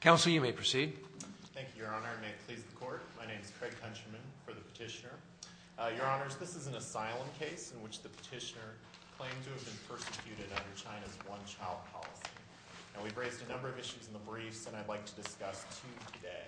Counsel, you may proceed. Thank you, Your Honor. May it please the Court. My name is Craig Countryman for the petitioner. Your Honors, this is an asylum case in which the petitioner claimed to have been persecuted under China's one-child policy. Now, we've raised a number of issues in the briefs, and I'd like to discuss two today.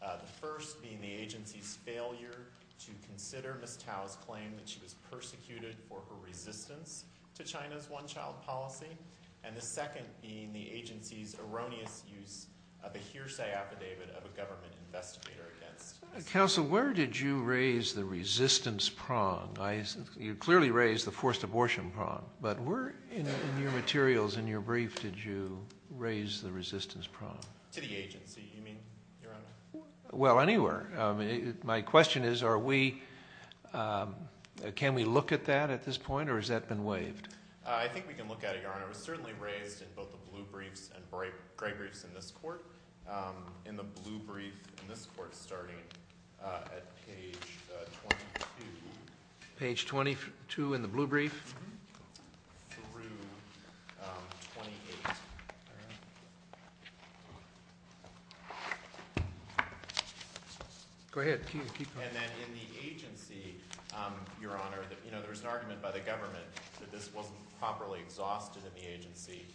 The first being the agency's failure to consider Miss Tao's claim that she was persecuted for her resistance to China's one-child policy. And the second being the agency's erroneous use of a hearsay affidavit of a government investigator against Miss Tao. Counsel, where did you raise the resistance prong? You clearly raised the forced abortion prong, but where in your materials, in your brief, did you raise the resistance prong? To the agency. You mean, Your Honor? Well, anywhere. My question is, are we, can we look at that at this point, or has that been waived? I think we can look at it, Your Honor. It was certainly raised in both the blue briefs and gray briefs in this court. In the blue brief, in this court, starting at page 22. Page 22 in the blue brief? Through 28. Go ahead, keep going. And then in the agency, Your Honor, there was an argument by the government that this wasn't properly exhausted in the agency.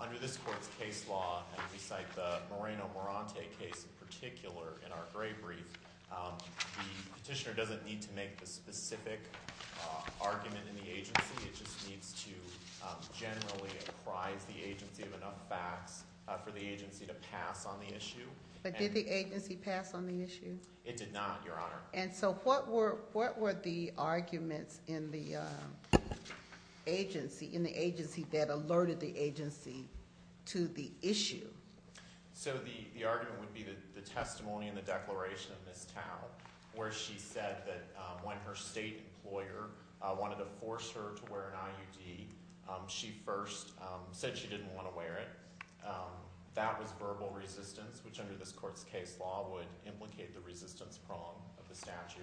Under this court's case law, and we cite the Moreno-Morante case in particular in our gray brief, the petitioner doesn't need to make the specific argument in the agency. It just needs to generally apprise the agency of enough facts for the agency to pass on the issue. But did the agency pass on the issue? It did not, Your Honor. And so what were the arguments in the agency that alerted the agency to the issue? So the argument would be the testimony and the declaration of Ms. Tao, where she said that when her state employer wanted to force her to wear an IUD, she first said she didn't want to wear it. That was verbal resistance, which under this court's case law would implicate the resistance prong of the statute.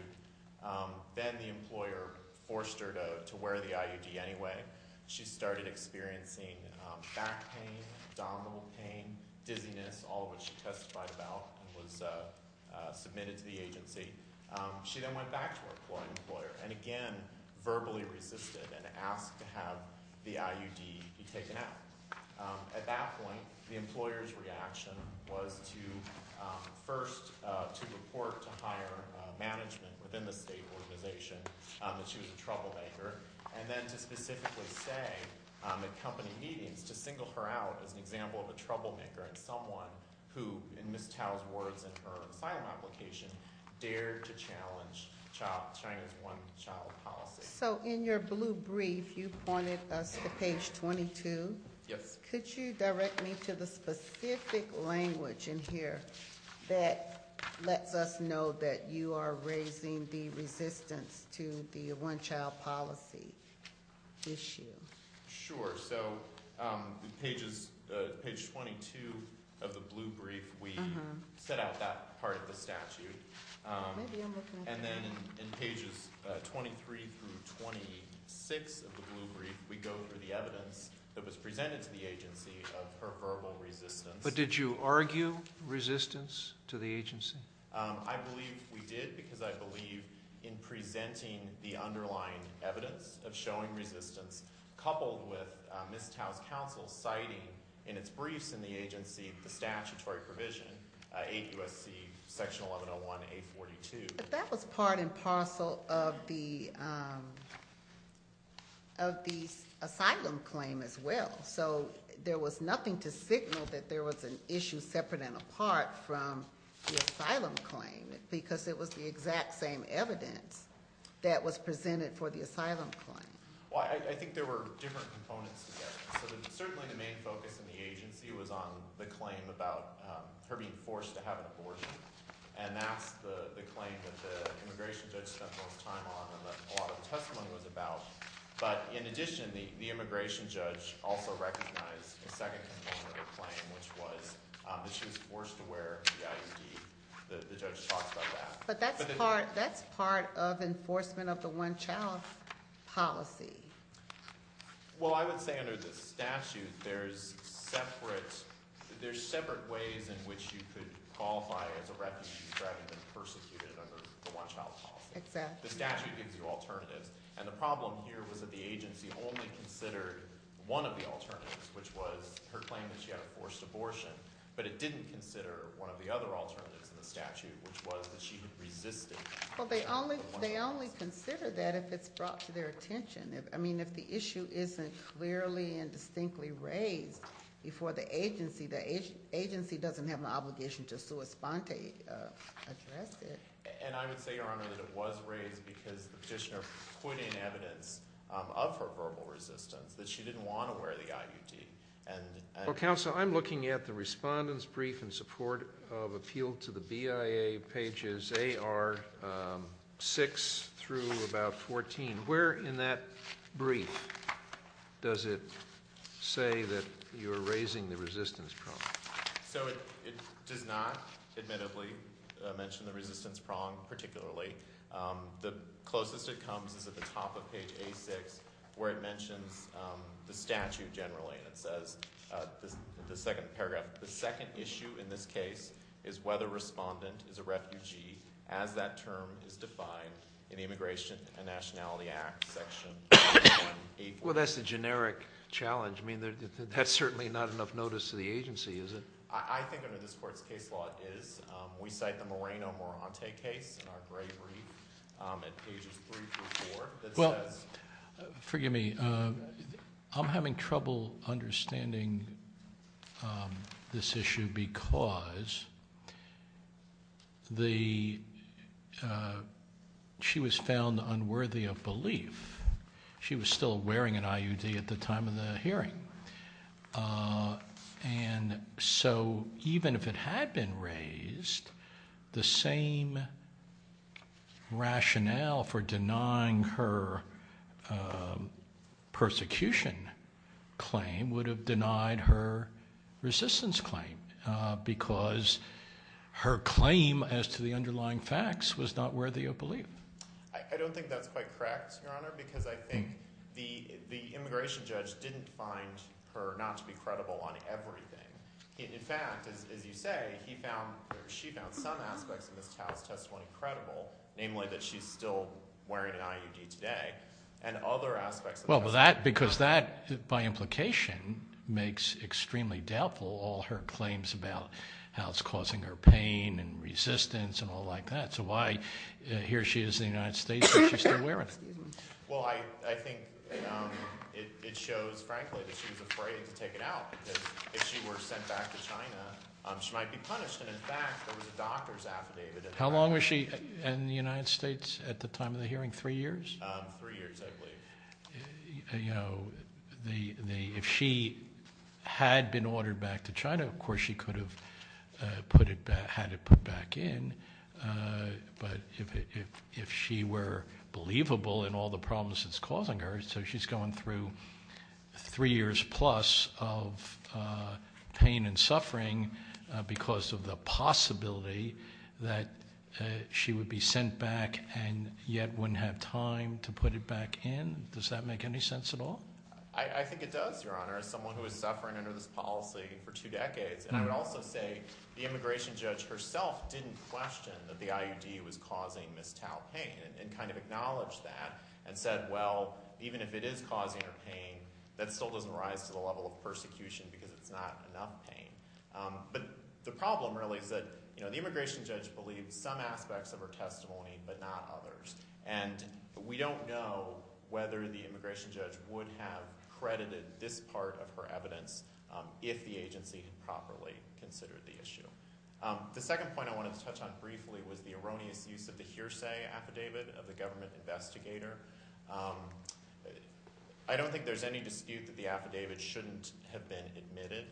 Then the employer forced her to wear the IUD anyway. She started experiencing back pain, abdominal pain, dizziness, all of which she testified about and was submitted to the agency. She then went back to her employer, and again, verbally resisted and asked to have the IUD be taken out. At that point, the employer's reaction was to first to report to higher management within the state organization that she was a troublemaker, and then to specifically say at company meetings to single her out as an example of a troublemaker and someone who, in Ms. Tao's words in her asylum application, dared to challenge China's one-child policy. So in your blue brief, you pointed us to page 22. Yes. Could you direct me to the specific language in here that lets us know that you are raising the resistance to the one-child policy issue? Sure. So page 22 of the blue brief, we set out that part of the statute. And then in pages 23 through 26 of the blue brief, we go through the evidence that was presented to the agency of her verbal resistance. But did you argue resistance to the agency? I believe we did because I believe in presenting the underlying evidence of showing resistance coupled with Ms. Tao's counsel citing in its briefs in the agency, the statutory provision, 8 U.S.C. section 1101A42. That was part and parcel of the asylum claim as well. So there was nothing to signal that there was an issue separate and apart from the asylum claim because it was the exact same evidence that was presented for the asylum claim. Well, I think there were different components to that. So certainly the main focus in the agency was on the claim about her being forced to have an abortion. And that's the claim that the immigration judge spent most time on and that a lot of the testimony was about. But in addition, the immigration judge also recognized a second component of the claim, which was that she was forced to wear the IUD. The judge talked about that. But that's part of enforcement of the one-child policy. Well, I would say under the statute, there's separate ways in which you could qualify as a refugee rather than persecuted under the one-child policy. Exactly. The statute gives you alternatives. And the problem here was that the agency only considered one of the alternatives, which was her claim that she had a forced abortion, but it didn't consider one of the other alternatives in the statute, which was that she had resisted. Well, they only consider that if it's brought to their attention. I mean, if the issue isn't clearly and distinctly raised before the agency, the agency doesn't have an obligation to sua sponte address it. And I would say, Your Honor, that it was raised because the petitioner put in evidence of her verbal resistance, that she didn't want to wear the IUD. Well, counsel, I'm looking at the respondent's brief in support of appeal to the BIA pages AR6 through about 14. Where in that brief does it say that you're raising the resistance prong? So it does not, admittedly, mention the resistance prong, particularly. The closest it comes is at the top of page A6, where it mentions the statute generally, and it says, the second paragraph, the second issue in this case is whether respondent is a refugee, as that term is defined in the Immigration and Nationality Act section. Well, that's the generic challenge. I mean, that's certainly not enough notice to the agency, is it? I think under this court's case law is. We cite the Moreno-Morante case in our great brief at pages three through four, that says. Forgive me, I'm having trouble understanding this issue, because she was found unworthy of belief. She was still wearing an IUD at the time of the hearing. And so even if it had been raised, the same rationale for denying her persecution claim would have denied her resistance claim, because her claim as to the underlying facts was not worthy of belief. Because I think the immigration judge didn't find her not to be credible on everything. In fact, as you say, she found some aspects of Ms. Tao's testimony credible, namely that she's still wearing an IUD today, and other aspects of the testimony. Well, because that, by implication, makes extremely doubtful all her claims about how it's causing her pain and resistance and all like that. So why, here she is in the United States, and she's still wearing it. Well, I think it shows, frankly, that she was afraid to take it out, because if she were sent back to China, she might be punished. And in fact, there was a doctor's affidavit. How long was she in the United States at the time of the hearing, three years? Three years, I believe. If she had been ordered back to China, of course she could have had it put back in. But if she were believable in all the problems it's causing her, so she's going through three years plus of pain and suffering because of the possibility that she would be sent back and yet wouldn't have time to put it back in. Does that make any sense at all? I think it does, Your Honor, as someone who was suffering under this policy for two decades. And I would also say the immigration judge herself didn't question that the IUD was causing Ms. Tao pain and kind of acknowledged that and said, well, even if it is causing her pain, that still doesn't rise to the level of persecution because it's not enough pain. But the problem really is that the immigration judge believed some aspects of her testimony, but not others. And we don't know whether the immigration judge would have credited this part of her evidence if the agency had properly considered the issue. The second point I wanted to touch on briefly was the erroneous use of the hearsay affidavit of the government investigator. I don't think there's any dispute that the affidavit shouldn't have been admitted.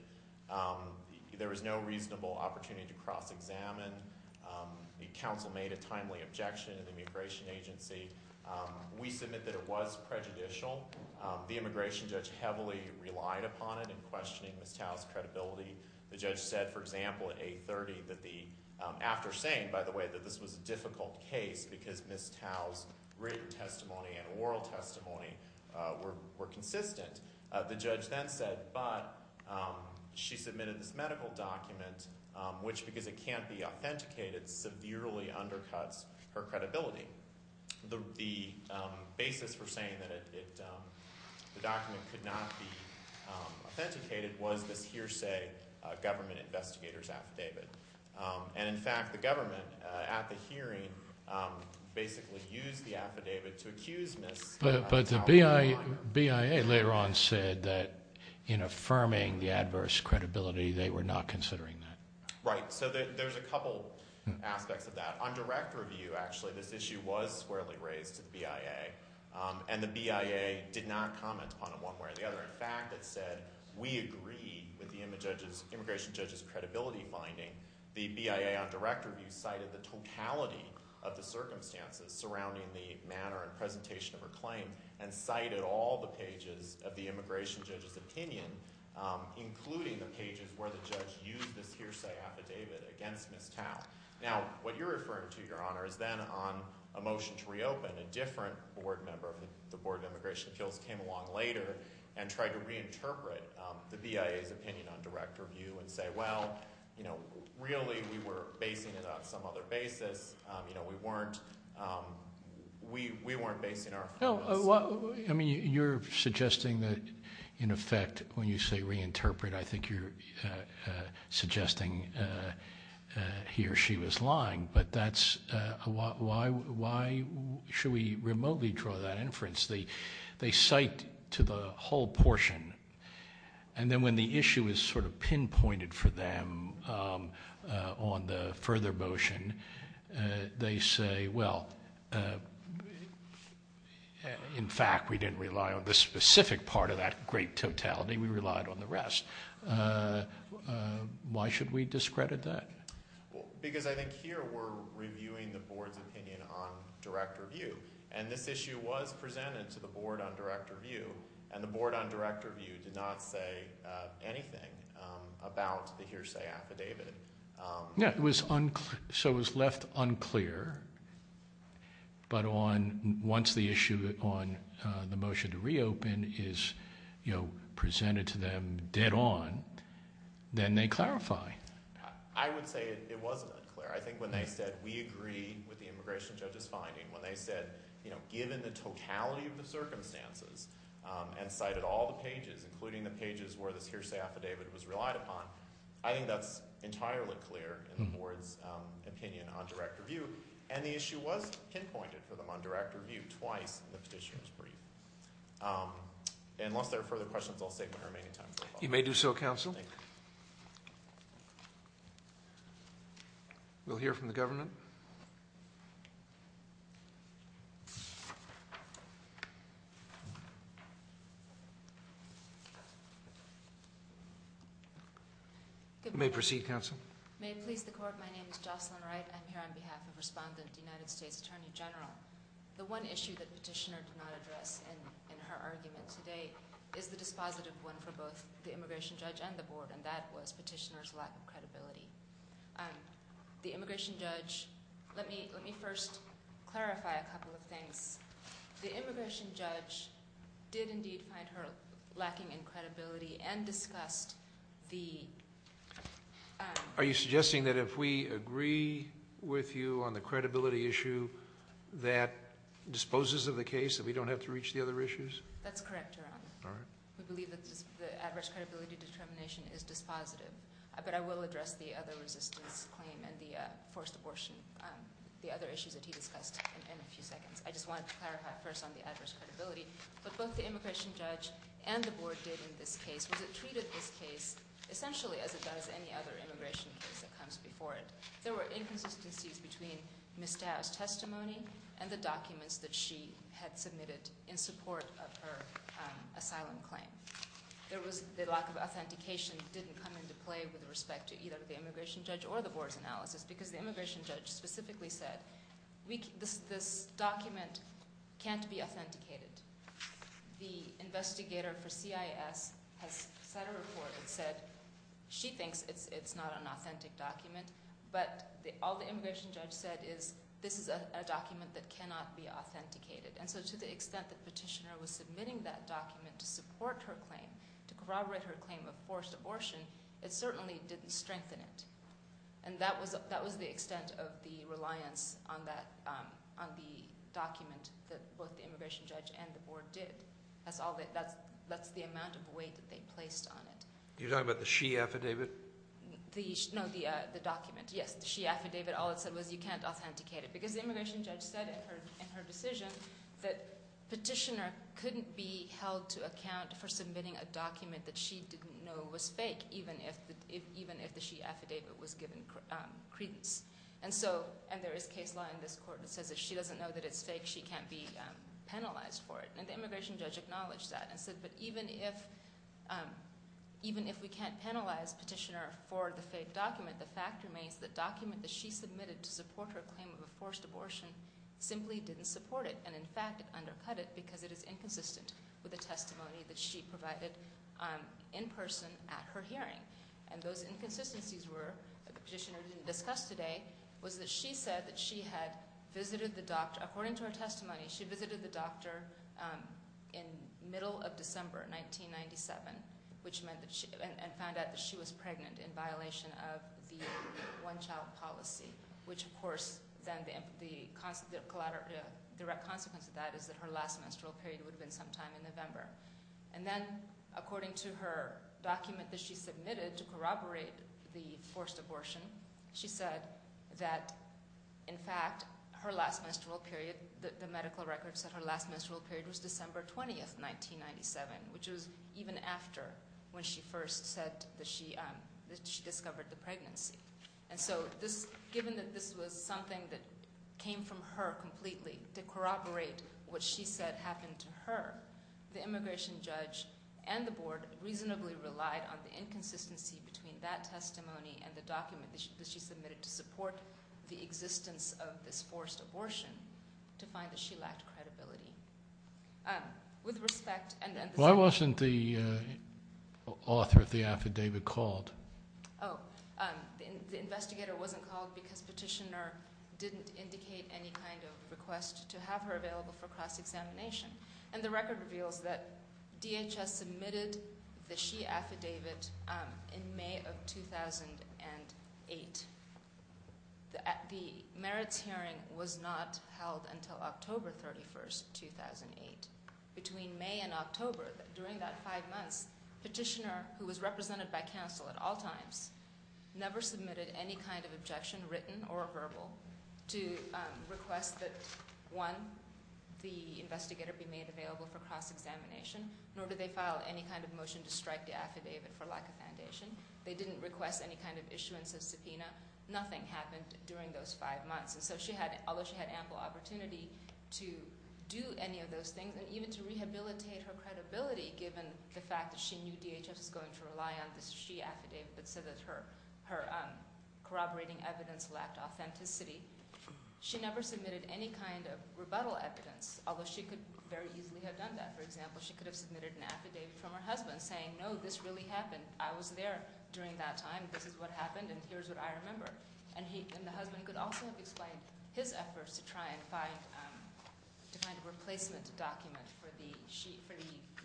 There was no reasonable opportunity to cross-examine. The counsel made a timely objection to the immigration agency. We submit that it was prejudicial. The immigration judge heavily relied upon it in questioning Ms. Tao's credibility. The judge said, for example, at 830 that the, after saying, by the way, that this was a difficult case because Ms. Tao's written testimony and oral testimony were consistent, the judge then said, but she submitted this medical document, which, because it can't be authenticated, severely undercuts her credibility. The basis for saying that the document could not be authenticated was this hearsay government investigator's affidavit. And in fact, the government, at the hearing, basically used the affidavit to accuse Ms. Tao of lying. But the BIA later on said that, in affirming the adverse credibility, they were not considering that. Right, so there's a couple aspects of that. On direct review, actually, this issue was squarely raised to the BIA, and the BIA did not comment upon it one way or the other. In fact, it said, we agree with the immigration judge's credibility finding, the BIA on direct review cited the totality of the circumstances surrounding the manner and presentation of her claim and cited all the pages of the immigration judge's opinion, including the pages where the judge used this hearsay affidavit against Ms. Tao. Now, what you're referring to, Your Honor, is then on a motion to reopen, when a different board member of the Board of Immigration Appeals came along later and tried to reinterpret the BIA's opinion on direct review and say, well, really, we were basing it on some other basis. We weren't basing our affirmation. I mean, you're suggesting that, in effect, when you say reinterpret, I think you're suggesting he or she was lying. But that's, why should we remotely draw that inference? They cite to the whole portion. And then when the issue is sort of pinpointed for them on the further motion, they say, well, in fact, we didn't rely on the specific part of that great totality, we relied on the rest. Why should we discredit that? Because I think here we're reviewing the board's opinion on direct review. And this issue was presented to the board on direct review, and the board on direct review did not say anything about the hearsay affidavit. Yeah, so it was left unclear, but once the issue on the motion to reopen is presented to them dead on, then they clarify. I would say it wasn't unclear. I think when they said, we agree with the immigration judge's finding, when they said, given the totality of the circumstances and cited all the pages, including the pages where this hearsay affidavit was relied upon, I think that's entirely clear in the board's opinion on direct review. And the issue was pinpointed for them on direct review twice in the petitioner's brief. Unless there are further questions, I'll save my remaining time for a follow-up. You may do so, counsel. Thank you. We'll hear from the government. You may proceed, counsel. May it please the court, my name is Jocelyn Wright. I'm here on behalf of Respondent, United States Attorney General. The one issue that petitioner did not address in her argument today is the dispositive one for both the immigration judge and the board, and that was petitioner's lack of credibility. The immigration judge, let me first clarify a couple of things. The immigration judge did indeed find her lacking in credibility and discussed the... Are you suggesting that if we agree with you on the credibility issue that disposes of the case that we don't have to reach the other issues? That's correct, Your Honor. All right. We believe that the adverse credibility determination is dispositive, but I will address the other resistance claim and the forced abortion, the other issues that he discussed in a few seconds. I just wanted to clarify first on the adverse credibility. What both the immigration judge and the board did in this case was it treated this case essentially as it does any other immigration case that comes before it. There were inconsistencies between Ms. Dow's testimony and the documents that she had submitted in support of her asylum claim. There was the lack of authentication didn't come into play with respect to either the immigration judge or the board's analysis because the immigration judge specifically said, this document can't be authenticated. The investigator for CIS has sent a report and said she thinks it's not an authentic document, but all the immigration judge said is this is a document that cannot be authenticated. And so to the extent that petitioner was submitting that document to support her claim, to corroborate her claim of forced abortion, it certainly didn't strengthen it. And that was the extent of the reliance on the document that both the immigration judge and the board did. That's the amount of weight that they placed on it. You're talking about the she affidavit? No, the document. Yes, the she affidavit. All it said was you can't authenticate it because the immigration judge said in her decision that petitioner couldn't be held to account for submitting a document that she didn't know was fake, even if the she affidavit was given credence. And so, and there is case law in this court that says if she doesn't know that it's fake, she can't be penalized for it. And the immigration judge acknowledged that and said, but even if we can't penalize petitioner for the fake document, the fact remains the document that she submitted to support her claim of a forced abortion simply didn't support it. And in fact, undercut it because it is inconsistent with the testimony that she provided in person at her hearing. And those inconsistencies were, that the petitioner didn't discuss today, was that she said that she had visited the doctor, according to her testimony, she visited the doctor in middle of December, 1997, which meant that she, and found out that she was pregnant in violation of the one-child policy, which of course, then the direct consequence of that is that her last menstrual period would have been sometime in November. And then, according to her document that she submitted to corroborate the forced abortion, she said that, in fact, her last menstrual period, the medical records said her last menstrual period was December 20th, 1997, which was even after when she first said that she discovered the pregnancy. And so, given that this was something that came from her completely, to corroborate what she said happened to her, the immigration judge and the board reasonably relied on the inconsistency between that testimony and the document that she submitted to support the existence of this forced abortion, to find that she lacked credibility. With respect, and then the second. Why wasn't the author of the affidavit called? Oh, the investigator wasn't called because Petitioner didn't indicate any kind of request to have her available for cross-examination. And the record reveals that DHS submitted the she affidavit in May of 2008. The merits hearing was not held until October 31st, 2008. Between May and October, during that five months, Petitioner, who was represented by counsel at all times, never submitted any kind of objection, written or verbal, to request that, one, the investigator be made available for cross-examination, nor did they file any kind of motion to strike the affidavit for lack of foundation. They didn't request any kind of issuance of subpoena. Nothing happened during those five months. And so, although she had ample opportunity to do any of those things, and even to rehabilitate her credibility, given the fact that she knew that she had submitted an affidavit, but said that her corroborating evidence lacked authenticity, she never submitted any kind of rebuttal evidence, although she could very easily have done that. For example, she could have submitted an affidavit from her husband, saying, no, this really happened. I was there during that time, this is what happened, and here's what I remember. And the husband could also have explained his efforts to try and find, to find a replacement document for the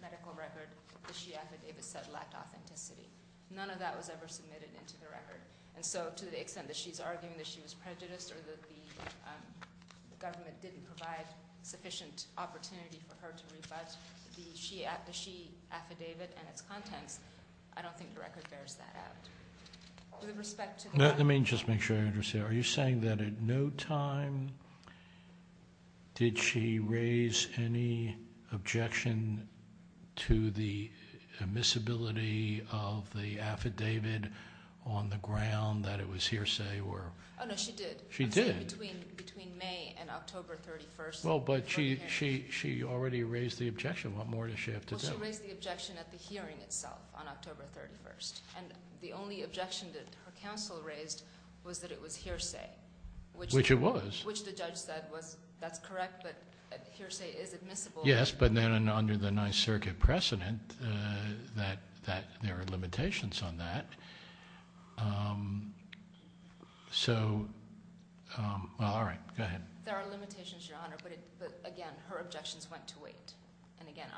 medical record, the she affidavit said lacked authenticity. None of that was ever submitted into the record. And so, to the extent that she's arguing that she was prejudiced, or that the government didn't provide sufficient opportunity for her to rebut the she affidavit and its contents, I don't think the record bears that out. With respect to the... Let me just make sure I understand. Are you saying that at no time did she raise any objection to the admissibility of the record of the affidavit on the ground, that it was hearsay, or? Oh, no, she did. She did? Between May and October 31st. Well, but she already raised the objection. What more does she have to do? Well, she raised the objection at the hearing itself on October 31st. And the only objection that her counsel raised was that it was hearsay. Which it was. Which the judge said was, that's correct, but hearsay is admissible. Yes, but then under the Ninth Circuit precedent, that there are limitations on that. So, well, all right, go ahead. There are limitations, Your Honor, but again, her objections went to wait. And again,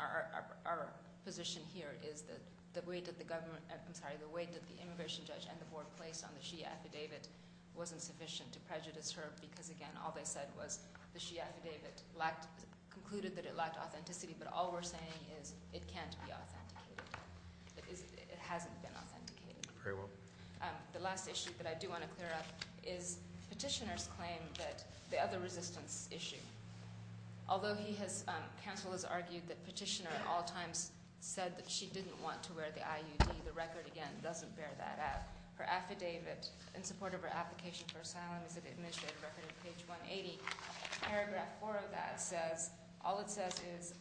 our position here is that the way that the government, I'm sorry, the way that the immigration judge and the board placed on the she affidavit wasn't sufficient to prejudice her, because again, all they said was the she affidavit concluded that it lacked authenticity, but all we're saying is, it can't be authenticated. It hasn't been authenticated. Very well. The last issue that I do want to clear up is Petitioner's claim that the other resistance issue, although he has, counsel has argued that Petitioner at all times said that she didn't want to wear the IUD, the record, again, doesn't bear that out. Her affidavit, in support of her application for asylum, is an administrative record in page 180. Paragraph four of that says, all it says is,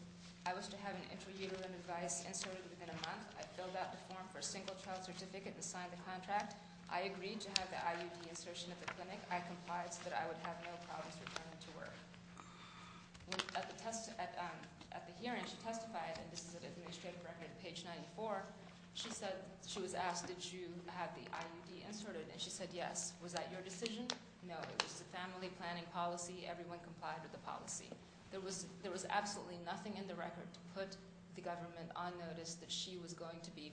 I wish to have an intrauterine device inserted within a month. I filled out the form for a single-child certificate and signed the contract. I agreed to have the IUD insertion at the clinic. I complied so that I would have no problems returning to work. At the hearing, she testified, and this is an administrative record, page 94. She said, she was asked, did you have the IUD inserted? And she said, yes. Was that your decision? No, it was a family planning policy. Everyone complied with the policy. There was absolutely nothing in the record to put the government on notice that she was going to be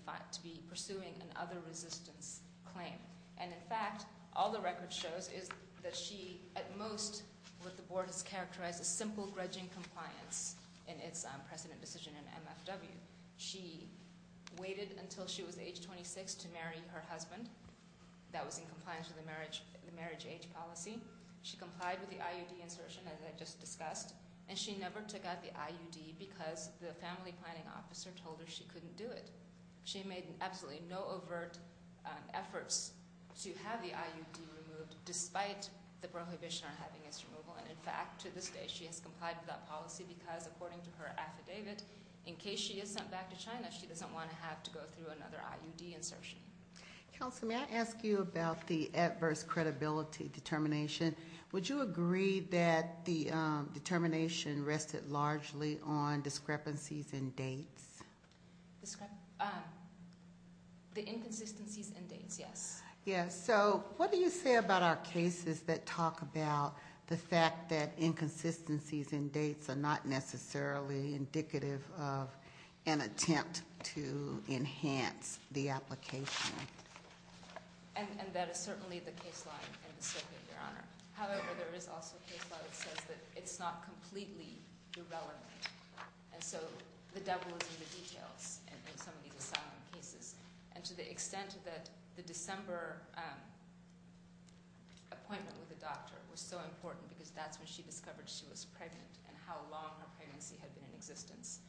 pursuing an other resistance claim. And in fact, all the record shows is that she, at most, what the board has characterized as simple grudging compliance in its precedent decision in MFW. She waited until she was age 26 to marry her husband. That was in compliance with the marriage age policy. She complied with the IUD insertion, as I just discussed. And she never took out the IUD because the family planning officer told her she couldn't do it. She made absolutely no overt efforts to have the IUD removed, despite the prohibition on having its removal. And in fact, to this day, she has complied with that policy because, according to her affidavit, in case she is sent back to China, she doesn't want to have to go through another IUD insertion. Counsel, may I ask you about the adverse credibility determination? Would you agree that the determination rested largely on discrepancies in dates? The inconsistencies in dates, yes. Yeah, so what do you say about our cases that talk about the fact that inconsistencies in dates are not necessarily indicative of an attempt to enhance the application? And that is certainly the case law in this circuit, Your Honor. However, there is also a case law that says that it's not completely irrelevant. And so the devil is in the details in some of these asylum cases. And to the extent that the December appointment with the doctor was so important because that's when she discovered she was pregnant and how long her pregnancy had been in existence,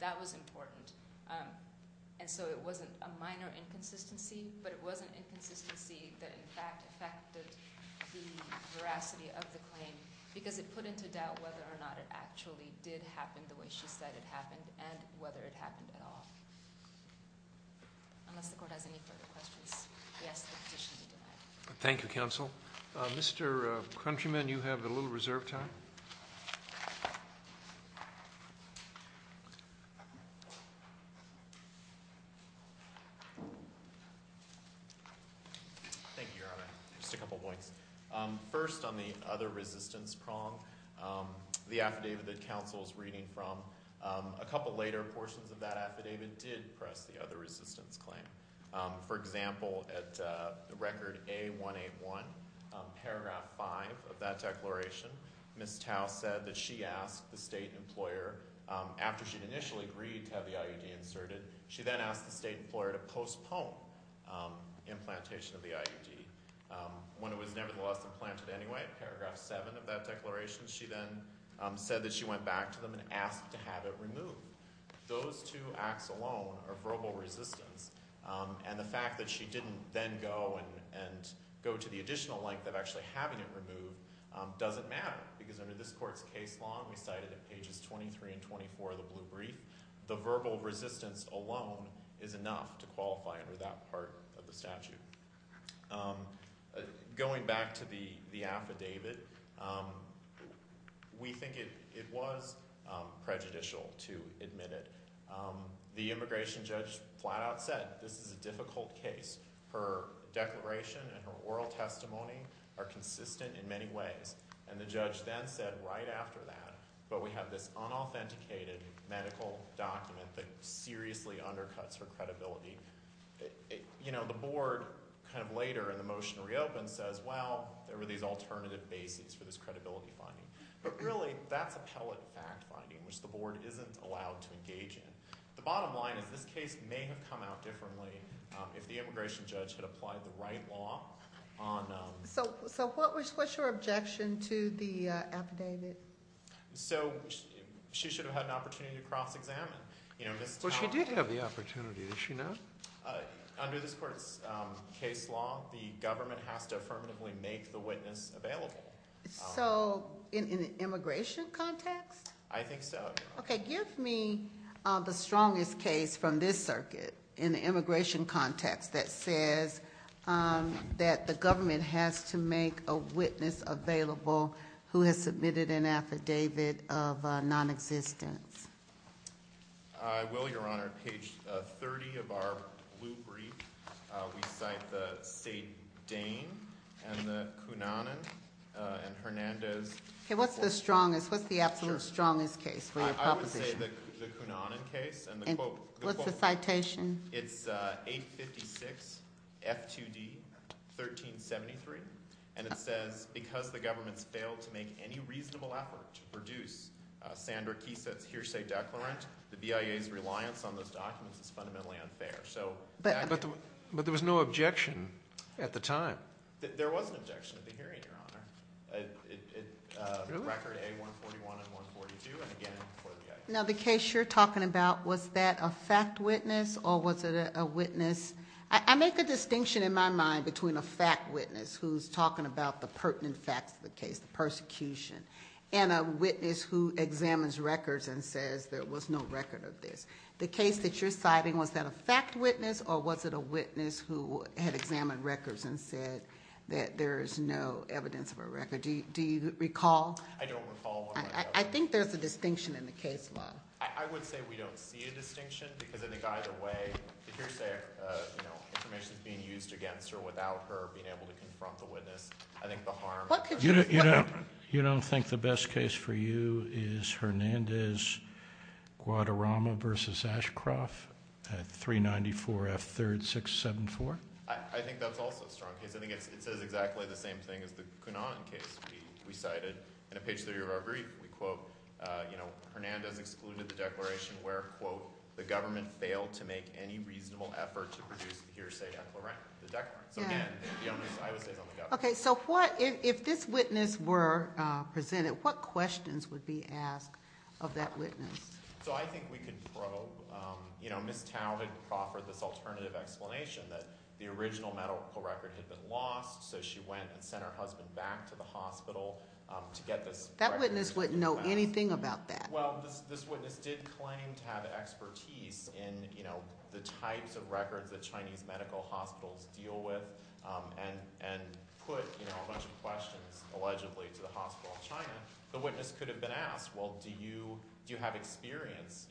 that was important. And so it wasn't a minor inconsistency, but it was an inconsistency that, in fact, affected the veracity of the claim because it put into doubt whether or not it actually did happen the way she said it happened and whether it happened at all. Unless the court has any further questions. Yes, the petition will be denied. Thank you, counsel. Mr. Countryman, you have a little reserve time. Thank you. Thank you, Your Honor. Just a couple points. First, on the other resistance prong, the affidavit that counsel's reading from, a couple later portions of that affidavit did press the other resistance claim. For example, at record A181, paragraph five of that declaration, Ms. Tao said that she asked the state employer after she'd initially agreed to have the IUD inserted, she then asked the state employer to postpone implantation of the IUD. When it was nevertheless implanted anyway, paragraph seven of that declaration, she then said that she went back to them and asked to have it removed. Those two acts alone are verbal resistance. And the fact that she didn't then go and go to the additional length of actually having it removed doesn't matter because under this court's case law, we cited at pages 23 and 24 of the blue brief, the verbal resistance alone is enough to qualify under that part of the statute. Going back to the affidavit, we think it was prejudicial to admit it. The immigration judge flat out said, this is a difficult case. Her declaration and her oral testimony are consistent in many ways. And the judge then said right after that, but we have this unauthenticated medical document that seriously undercuts her credibility. The board kind of later in the motion to reopen says, well, there were these alternative bases for this credibility finding. But really, that's appellate fact finding, which the board isn't allowed to engage in. The bottom line is this case may have come out differently if the immigration judge had applied the right law on. So what's your objection to the affidavit? So she should have had an opportunity to cross examine. Well, she did have the opportunity, did she not? Under this court's case law, the government has to affirmatively make the witness available. So in an immigration context? I think so. Okay, give me the strongest case from this circuit in the immigration context that says that the government has to make a witness available who has submitted an affidavit of nonexistence. I will, Your Honor. Page 30 of our blue brief, we cite the Sade Dane and the Cunanan and Hernandez. Okay, what's the strongest? What's the absolute strongest case for your proposition? I would say the Cunanan case and the quote. What's the citation? It's 856 F2D 1373. And it says, because the government's failed to make any reasonable effort to produce Sandra Keese's hearsay declarant, the BIA's reliance on those documents is fundamentally unfair. But there was no objection at the time. There was an objection at the hearing, Your Honor. Record A141 and 142, and again for the BIA. Now the case you're talking about, was that a fact witness or was it a witness? I make a distinction in my mind between a fact witness who's talking about the pertinent facts of the case, the persecution, and a witness who examines records and says there was no record of this. The case that you're citing, was that a fact witness or was it a witness who had examined records and said that there is no evidence of a record? Do you recall? I don't recall, Your Honor. I think there's a distinction in the case, Law. I would say we don't see a distinction because I think either way, the hearsay information's being used against her, without her being able to confront the witness. I think the harm. You don't think the best case for you is Hernandez-Guadarrama versus Ashcroft at 394 F3rd 674? I think that's also a strong case. I think it says exactly the same thing as the Cunanan case. We cited, in a page three of our brief, we quote, Hernandez excluded the declaration where, quote, the government failed to make any reasonable effort to produce the hearsay declarant, the declarant. So again, the onus, I would say, is on the government. Okay, so what, if this witness were presented, what questions would be asked of that witness? So I think we could probe, Ms. Talbot could proffer this alternative explanation that the original medical record had been lost, so she went and sent her husband back to the hospital to get this record. That witness wouldn't know anything about that. Well, this witness did claim to have expertise in the types of records that Chinese medical hospitals deal with, and put a bunch of questions, allegedly, to the hospital in China. The witness could have been asked, well, do you have experience?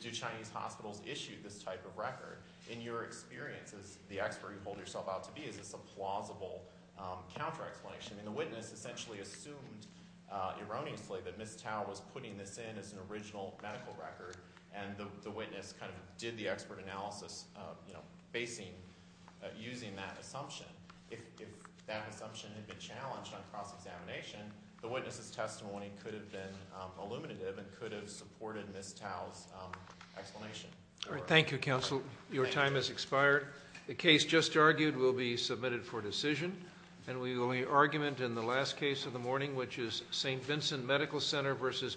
Do Chinese hospitals issue this type of record? In your experience, as the expert you hold yourself out to be, is this a plausible counter-explanation? I mean, the witness essentially assumed, erroneously, that Ms. Talbot was putting this in as an original medical record, and the witness kind of did the expert analysis, you know, basing, using that assumption. If that assumption had been challenged on cross-examination, the witness's testimony could have been illuminative, and could have supported Ms. Talbot's explanation. All right, thank you, counsel. Your time has expired. The case just argued will be submitted for decision, and we will argument in the last case of the morning, which is St. Vincent Medical Center versus Megalife.